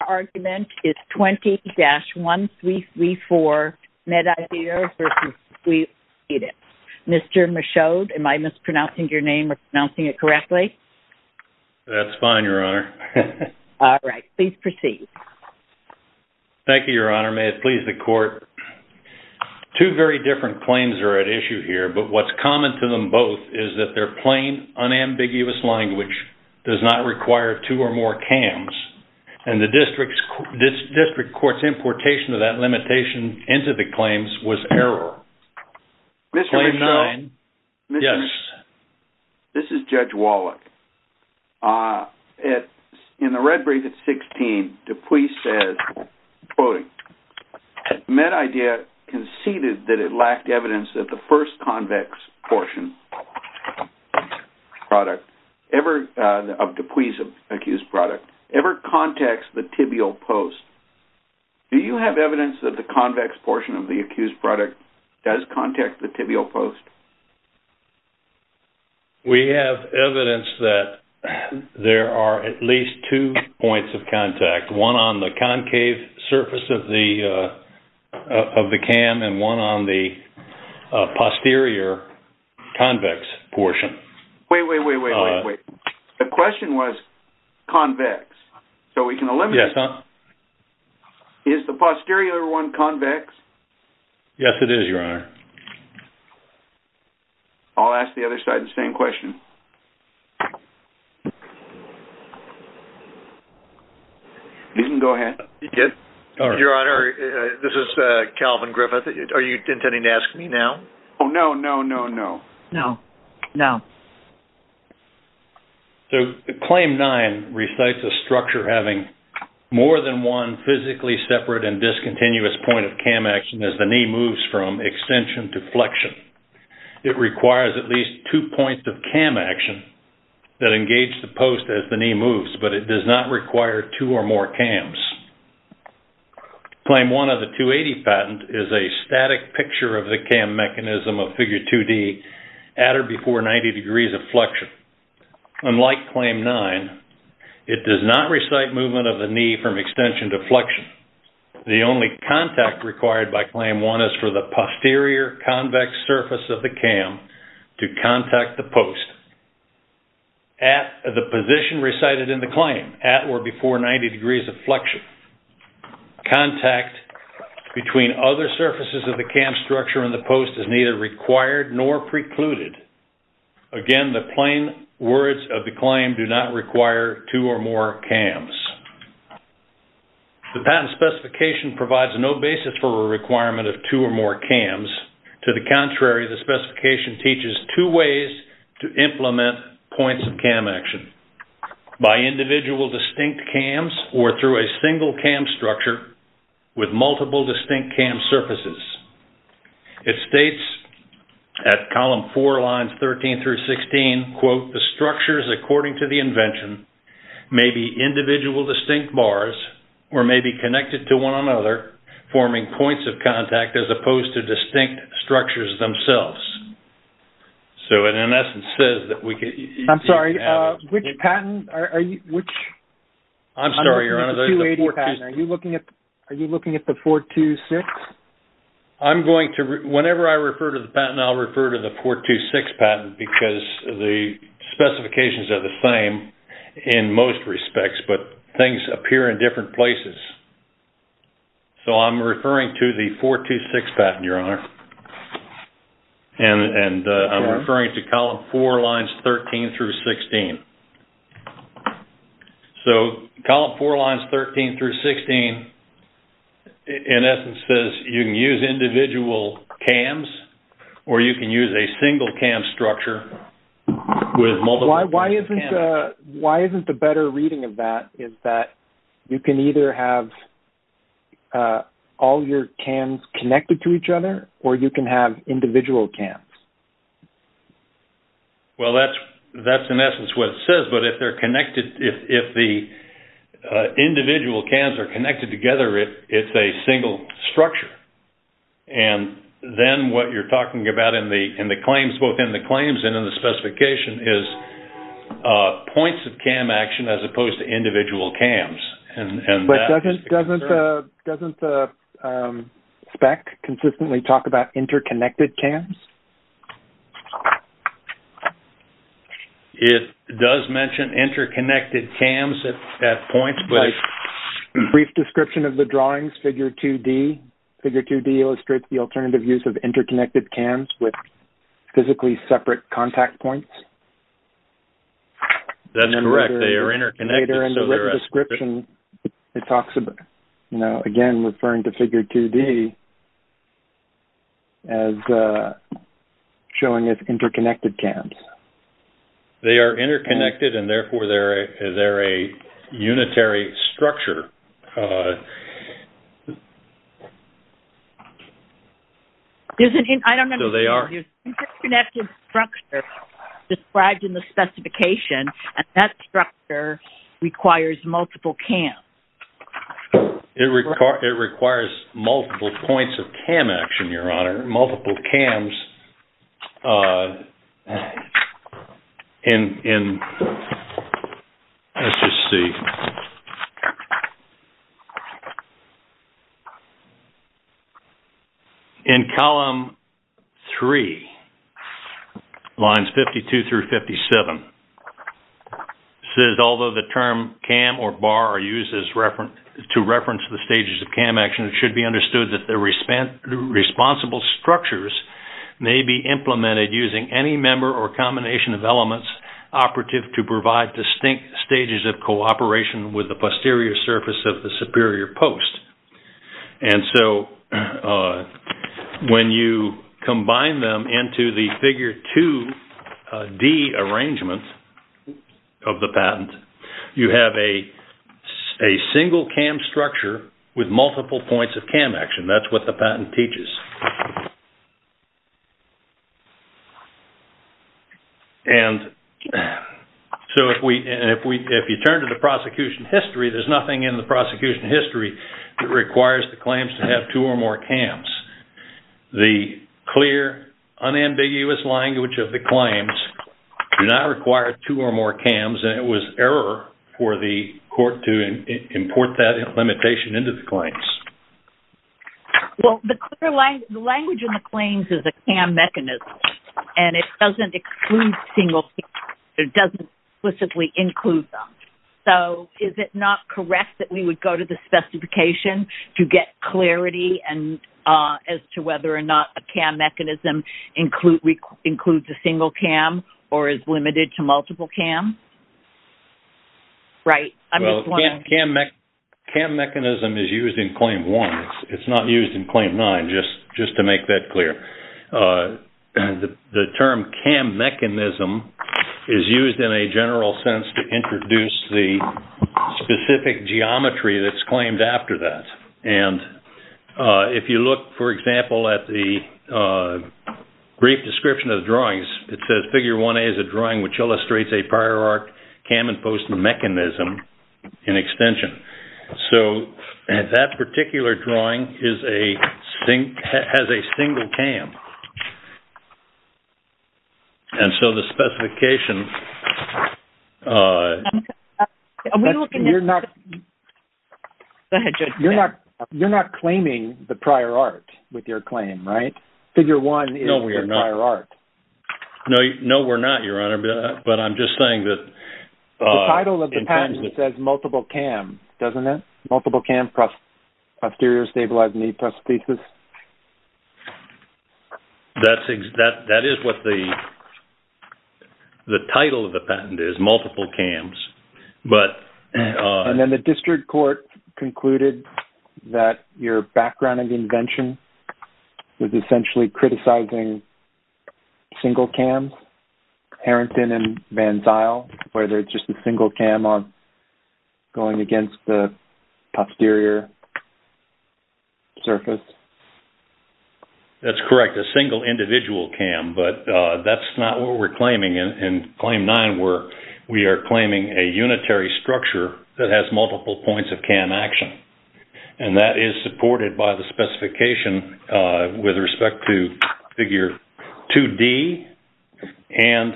Your argument is 20-1334 MedIdea v. L.L.C. Orthopaedics. Mr. Michaud, am I mispronouncing your name or pronouncing it correctly? That's fine, Your Honor. All right. Please proceed. Thank you, Your Honor. May it please the Court. Two very different claims are at issue here, but what's common to them both is that their plain, unambiguous language does not require two or more CAMs. And the district court's importation of that limitation into the claims was error. Mr. Michaud? Yes. This is Judge Wallach. In the red brief at 16, DePuy says, quoting, MedIdea conceded that it lacked evidence that the first convex portion of DePuy's accused product ever contacts the tibial post. Do you have evidence that the convex portion of the accused product does contact the tibial post? We have evidence that there are at least two points of contact, one on the concave surface of the CAM and one on the posterior convex portion. Wait, wait, wait, wait, wait. The question was convex, so we can eliminate it. Yes, Your Honor. Is the posterior one convex? Yes, it is, Your Honor. I'll ask the other side the same question. You can go ahead. Your Honor, this is Calvin Griffith. Are you intending to ask me now? Oh, no, no, no, no. No, no. So Claim 9 recites a structure having more than one physically separate and discontinuous point of CAM action as the knee moves from extension to flexion. It requires at least two points of CAM action that engage the post as the knee moves, but it does not require two or more CAMs. Claim 1 of the 280 patent is a static picture of the CAM mechanism of Figure 2D at or before 90 degrees of flexion. Unlike Claim 9, it does not recite movement of the knee from extension to flexion. The only contact required by Claim 1 is for the posterior convex surface of the CAM to contact the post at the position recited in the claim, at or before 90 degrees of flexion. Contact between other surfaces of the CAM structure and the post is neither required nor precluded. Again, the plain words of the claim do not require two or more CAMs. The patent specification provides no basis for a requirement of two or more CAMs. To the contrary, the specification teaches two ways to implement points of CAM action. By individual distinct CAMs or through a single CAM structure with multiple distinct CAM surfaces. It states at column four, lines 13 through 16, quote, the structures according to the invention may be individual distinct bars or may be connected to one another, forming points of contact as opposed to distinct structures themselves. So, it in essence says that we can... I'm sorry, which patent are you... I'm sorry, Your Honor. Are you looking at the 426? Whenever I refer to the patent, I'll refer to the 426 patent because the specifications are the same in most respects, but things appear in different places. So, I'm referring to the 426 patent, Your Honor. And I'm referring to column four, lines 13 through 16. So, column four, lines 13 through 16, in essence, says you can use individual CAMs or you can use a single CAM structure with multiple distinct CAMs. Why isn't the better reading of that is that you can either have all your CAMs connected to each other or you can have individual CAMs? Well, that's in essence what it says, but if the individual CAMs are connected together, it's a single structure. And then what you're talking about in the claims, both in the claims and in the specification, is points of CAM action as opposed to individual CAMs. But doesn't the spec consistently talk about interconnected CAMs? It does mention interconnected CAMs at points, but... In the description of the drawings, figure 2-D, figure 2-D illustrates the alternative use of interconnected CAMs with physically separate contact points. That's correct. They are interconnected. Later in the written description, it talks about, you know, again, referring to figure 2-D as showing as interconnected CAMs. They are interconnected, and therefore, they're a unitary structure. I don't understand. So they are... Interconnected structure described in the specification, and that structure requires multiple CAMs. It requires multiple points of CAM action, Your Honor, multiple CAMs. Let's just see. In column 3, lines 52 through 57, it says, although the term CAM or BAR are used to reference the stages of CAM action, it should be understood that the responsible structures may be implemented using any member or combination of elements operative to provide distinct stages of cooperation with the posterior surface of the superior post. And so, when you combine them into the figure 2-D arrangement of the patent, you have a single CAM structure with multiple points of CAM action. That's what the patent teaches. And so, if you turn to the prosecution history, there's nothing in the prosecution history that requires the claims to have two or more CAMs. The clear, unambiguous language of the claims do not require two or more CAMs, and it was error for the court to import that limitation into the claims. Well, the language in the claims is a CAM mechanism, and it doesn't exclude single CAMs. It doesn't explicitly include them. So, is it not correct that we would go to the specification to get clarity as to whether or not a CAM mechanism includes a single CAM or is limited to multiple CAMs? Right. I'm just wondering. CAM mechanism is used in Claim 1. It's not used in Claim 9, just to make that clear. The term CAM mechanism is used in a general sense to introduce the specific geometry that's claimed after that. And if you look, for example, at the brief description of the drawings, it says, Figure 1a is a drawing which illustrates a prior art CAM imposed mechanism in extension. So, that particular drawing has a single CAM. And so, the specification... You're not claiming the prior art with your claim, right? Figure 1 is the prior art. No, we're not, Your Honor, but I'm just saying that... The title of the patent says multiple CAM, doesn't it? Multiple CAM posterior stabilized knee prosthesis. That is what the title of the patent is, multiple CAMs. And then the district court concluded that your background and invention was essentially criticizing single CAMs, Harrington and Van Zyl, where there's just a single CAM going against the posterior surface. That's correct, a single individual CAM, but that's not what we're claiming. In Claim 9, we are claiming a unitary structure that has multiple points of CAM action. And that is supported by the specification with respect to Figure 2d and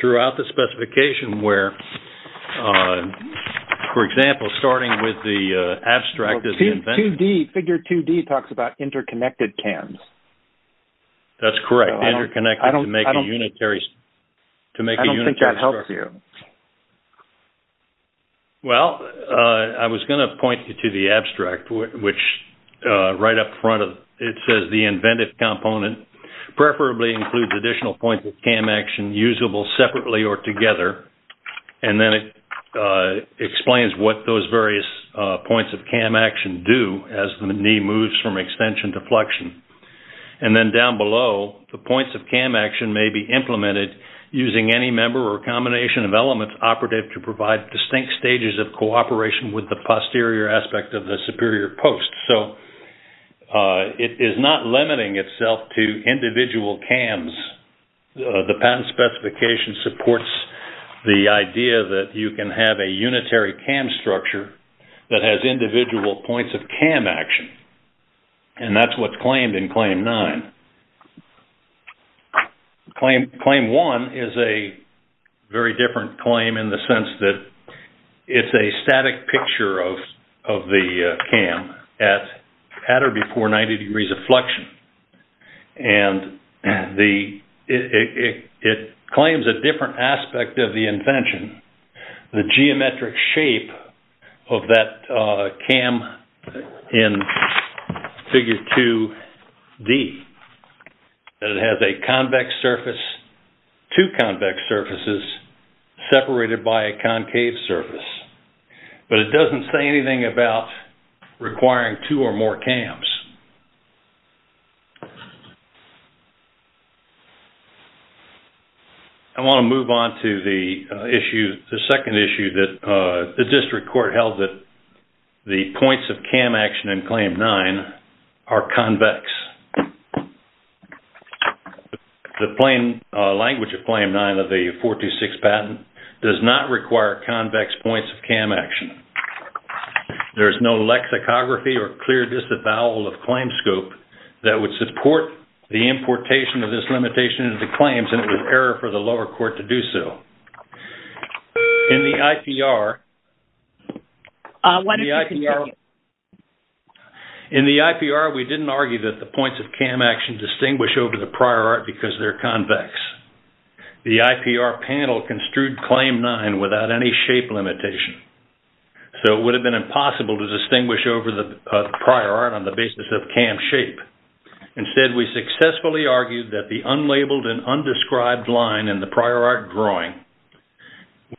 throughout the specification, where, for example, starting with the abstract... Figure 2d talks about interconnected CAMs. That's correct, interconnected to make a unitary structure. I don't think that helps you. Well, I was going to point you to the abstract, which right up front, it says the inventive component preferably includes additional points of CAM action usable separately or together. And then it explains what those various points of CAM action do as the knee moves from extension to flexion. And then down below, the points of CAM action may be implemented using any member or combination of elements operative to provide distinct stages of cooperation with the posterior aspect of the superior post. So it is not limiting itself to individual CAMs. The patent specification supports the idea that you can have a unitary CAM structure that has individual points of CAM action. And that's what's claimed in Claim 9. Claim 1 is a very different claim in the sense that it's a static picture of the CAM at or before 90 degrees of flexion. And it claims a different aspect of the invention, the geometric shape of that CAM in Figure 2D. It has a convex surface, two convex surfaces separated by a concave surface. But it doesn't say anything about requiring two or more CAMs. I want to move on to the second issue that the district court held that the points of CAM action in Claim 9 are convex. The plain language of Claim 9 of the 426 patent does not require convex points of CAM action. There's no lexicography or clear disavowal of claim scope that would support the importation of this limitation into claims and it was error for the lower court to do so. In the IPR, we didn't argue that the points of CAM action distinguish over the prior art because they're convex. The IPR panel construed Claim 9 without any shape limitation. So, it would have been impossible to distinguish over the prior art on the basis of CAM shape. Instead, we successfully argued that the unlabeled and undescribed line in the prior art drawing,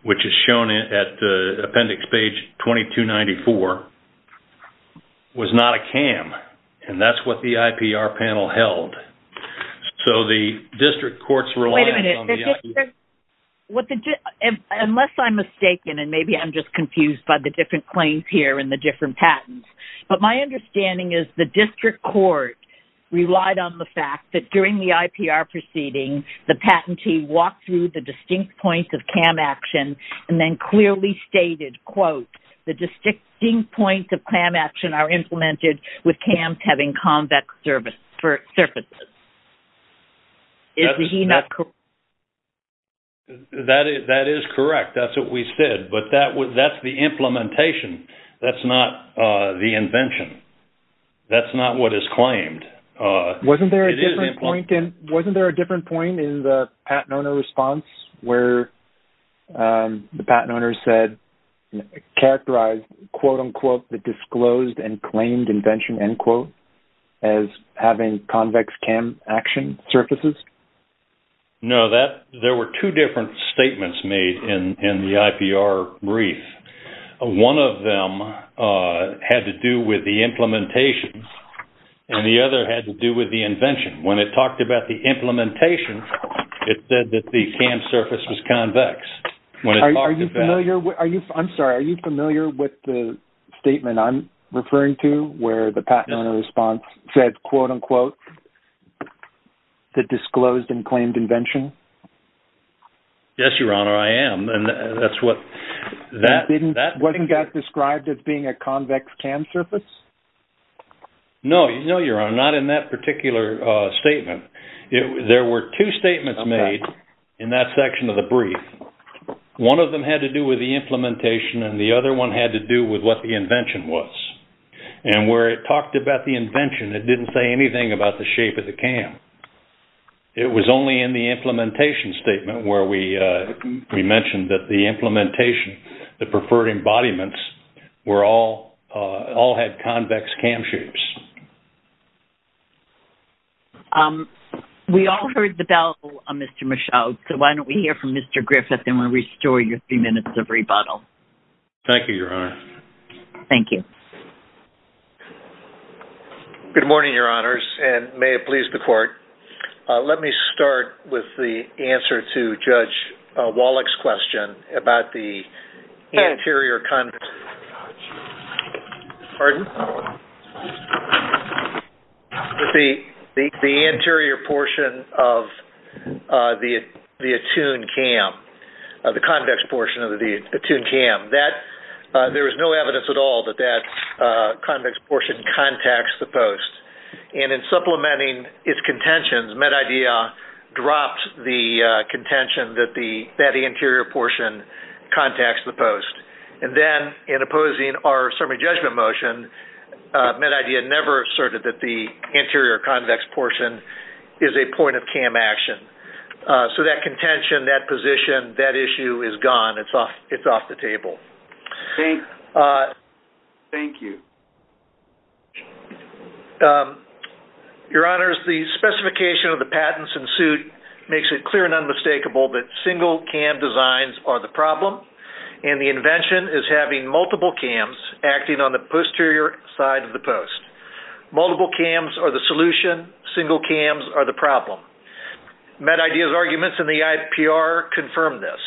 which is shown at appendix page 2294, was not a CAM. And that's what the IPR panel held. So, the district court's reliance on the IPR... ...and the different patents. But my understanding is the district court relied on the fact that during the IPR proceeding, the patentee walked through the distinct points of CAM action and then clearly stated, quote, the distinct points of CAM action are implemented with CAMs having convex surfaces. Is he not correct? That is correct. That's what we said. But that's the implementation. That's not the invention. That's not what is claimed. Wasn't there a different point in the patent owner response where the patent owner said, characterized, quote, unquote, the disclosed and claimed invention, end quote, as having convex CAM action surfaces? No. There were two different statements made in the IPR brief. One of them had to do with the implementation, and the other had to do with the invention. When it talked about the implementation, it said that the CAM surface was convex. Are you familiar with the statement I'm referring to where the patent owner response said, quote, unquote, the disclosed and claimed invention? Yes, Your Honor. I am. Wasn't that described as being a convex CAM surface? No, Your Honor. Not in that particular statement. There were two statements made in that section of the brief. One of them had to do with the implementation, and the other one had to do with what the invention was. And where it talked about the invention, it didn't say anything about the shape of the CAM. It was only in the implementation statement where we mentioned that the implementation, the preferred embodiments, all had convex CAM shapes. We all heard the bell, Mr. Michaud, so why don't we hear from Mr. Griffith, and we'll restore your three minutes of rebuttal. Thank you, Your Honor. Thank you. Good morning, Your Honors, and may it please the Court. Let me start with the answer to Judge Wallach's question about the anterior convex. Pardon? The anterior portion of the attuned CAM, the convex portion of the attuned CAM. There is no evidence at all that that convex portion contacts the post. And in supplementing its contentions, MedIdea dropped the contention that the anterior portion contacts the post. And then in opposing our summary judgment motion, MedIdea never asserted that the anterior convex portion is a point of CAM action. So that contention, that position, that issue is gone. It's off the table. Thanks. Thank you. Your Honors, the specification of the patents in suit makes it clear and unmistakable that single CAM designs are the problem, and the invention is having multiple CAMs acting on the posterior side of the post. Multiple CAMs are the solution. Single CAMs are the problem. MedIdea's arguments in the IPR confirm this.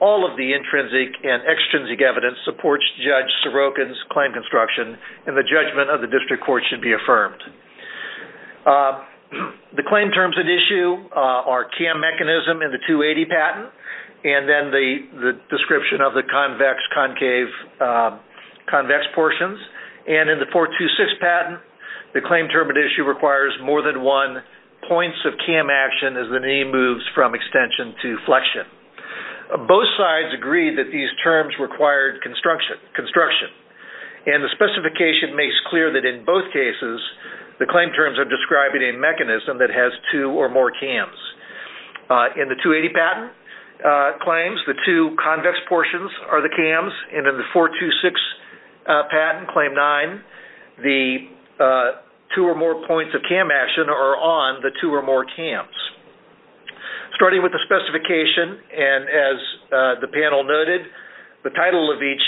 All of the intrinsic and extrinsic evidence supports Judge Sorokin's claim construction, and the judgment of the district court should be affirmed. The claim terms at issue are CAM mechanism in the 280 patent, and then the description of the convex, concave, convex portions. And in the 426 patent, the claim term at issue requires more than one points of CAM action as the knee moves from extension to flexion. Both sides agree that these terms required construction, and the specification makes clear that in both cases, the claim terms are describing a mechanism that has two or more CAMs. In the 280 patent claims, the two convex portions are the CAMs, and in the 426 patent, Claim 9, the two or more points of CAM action are on the two or more CAMs. Starting with the specification, and as the panel noted, the title of each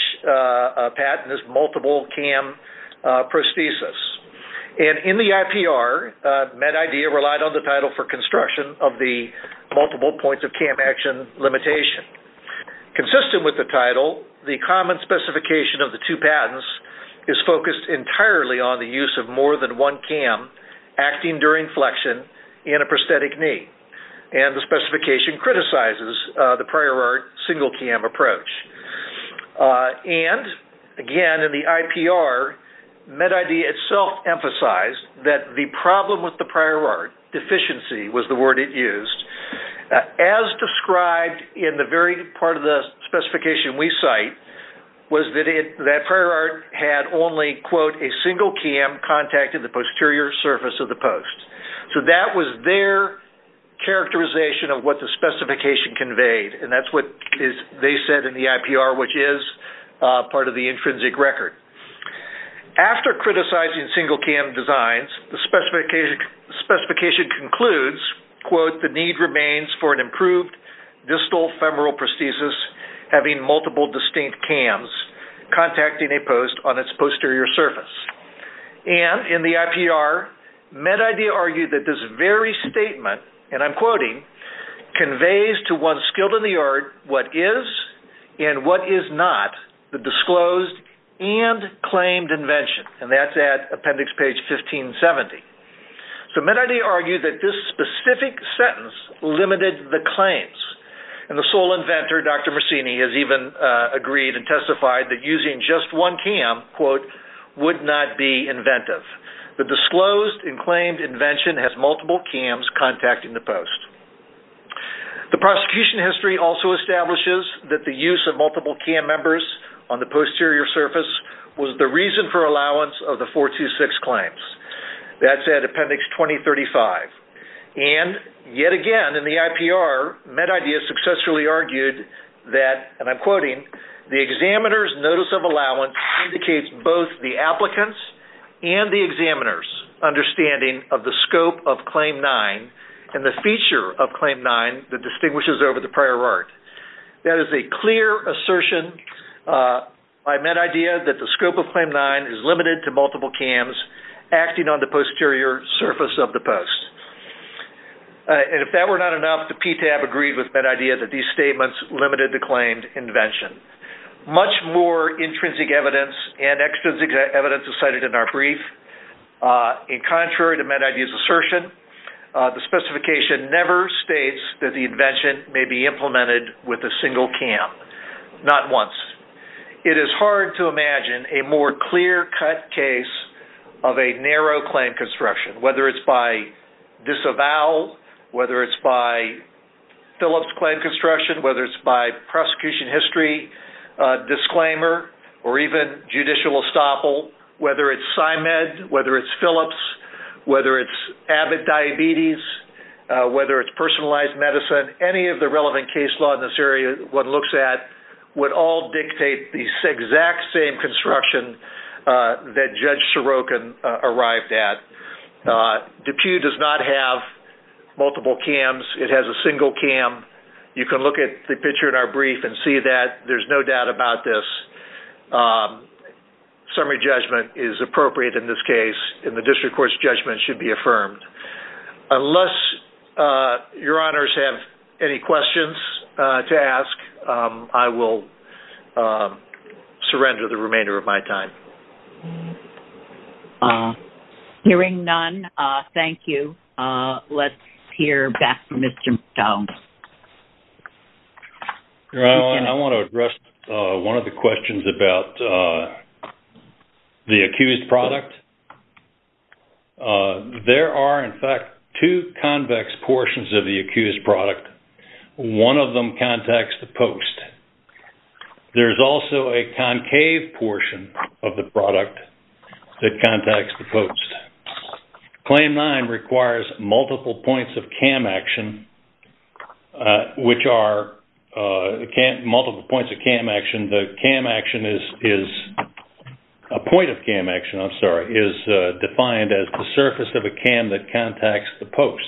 patent is Multiple CAM Prosthesis. And in the IPR, MedIdea relied on the title for construction of the multiple points of CAM action limitation. Consistent with the title, the common specification of the two patents is focused entirely on the use of more than one CAM acting during flexion in a prosthetic knee. And the specification criticizes the prior art single CAM approach. And, again, in the IPR, MedIdea itself emphasized that the problem with the prior art, deficiency was the word it used, as described in the very part of the specification we cite, was that prior art had only, quote, a single CAM contacted the posterior surface of the post. So that was their characterization of what the specification conveyed, and that's what they said in the IPR, which is part of the intrinsic record. After criticizing single CAM designs, the specification concludes, quote, the need remains for an improved distal femoral prosthesis having multiple distinct CAMs contacting a post on its posterior surface. And in the IPR, MedIdea argued that this very statement, and I'm quoting, conveys to one skilled in the art what is and what is not the disclosed and claimed invention. And that's at appendix page 1570. So MedIdea argued that this specific sentence limited the claims. And the sole inventor, Dr. Marcini, has even agreed and testified that using just one CAM, quote, would not be inventive. The disclosed and claimed invention has multiple CAMs contacting the post. The prosecution history also establishes that the use of multiple CAM members on the posterior surface was the reason for allowance of the 426 claims. That's at appendix 2035. And yet again in the IPR, MedIdea successfully argued that, and I'm quoting, the examiner's notice of allowance indicates both the applicant's and the examiner's understanding of the scope of Claim 9 and the feature of Claim 9 that distinguishes over the prior art. That is a clear assertion by MedIdea that the scope of Claim 9 is limited to multiple CAMs acting on the posterior surface of the post. And if that were not enough, the PTAB agreed with MedIdea that these statements limited the claimed invention. Much more intrinsic evidence and extrinsic evidence is cited in our brief. In contrary to MedIdea's assertion, the specification never states that the invention may be implemented with a single CAM, not once. It is hard to imagine a more clear-cut case of a narrow claim construction, whether it's by disavowal, whether it's by Phillips claim construction, whether it's by prosecution history disclaimer or even judicial estoppel, whether it's PsyMed, whether it's Phillips, whether it's AVID diabetes, whether it's personalized medicine, any of the relevant case law in this area one looks at would all dictate the exact same construction that Judge Sorokin arrived at. DePuy does not have multiple CAMs. It has a single CAM. You can look at the picture in our brief and see that. There's no doubt about this. Summary judgment is appropriate in this case, and the district court's judgment should be affirmed. Unless your honors have any questions to ask, I will surrender the remainder of my time. Hearing none, thank you. Let's hear back from Mr. McDonald. I want to address one of the questions about the accused product. There are, in fact, two convex portions of the accused product. One of them contacts the post. There's also a concave portion of the product that contacts the post. Claim nine requires multiple points of CAM action, which are multiple points of CAM action. The CAM action is a point of CAM action, I'm sorry, is defined as the surface of a CAM that contacts the post.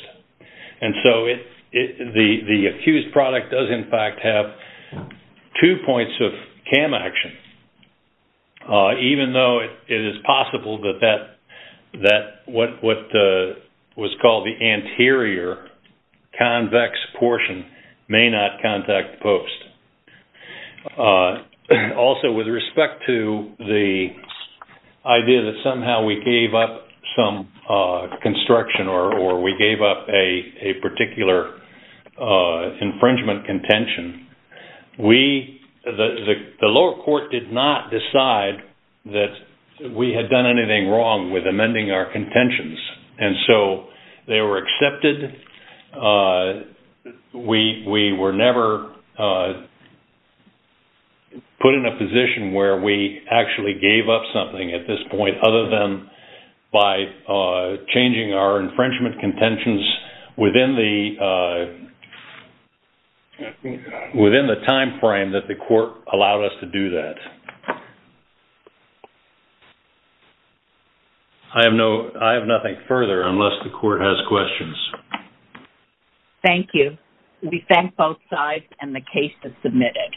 The accused product does, in fact, have two points of CAM action, even though it is possible that what was called the anterior convex portion may not contact the post. Also, with respect to the idea that somehow we gave up some construction or we gave up a particular infringement contention, the lower court did not decide that we had done anything wrong with amending our contentions. They were accepted. We were never put in a position where we actually gave up something at this point other than by changing our infringement contentions within the time frame that the court allowed us to do that. I have nothing further unless the court has questions. Thank you. We thank both sides and the case is submitted.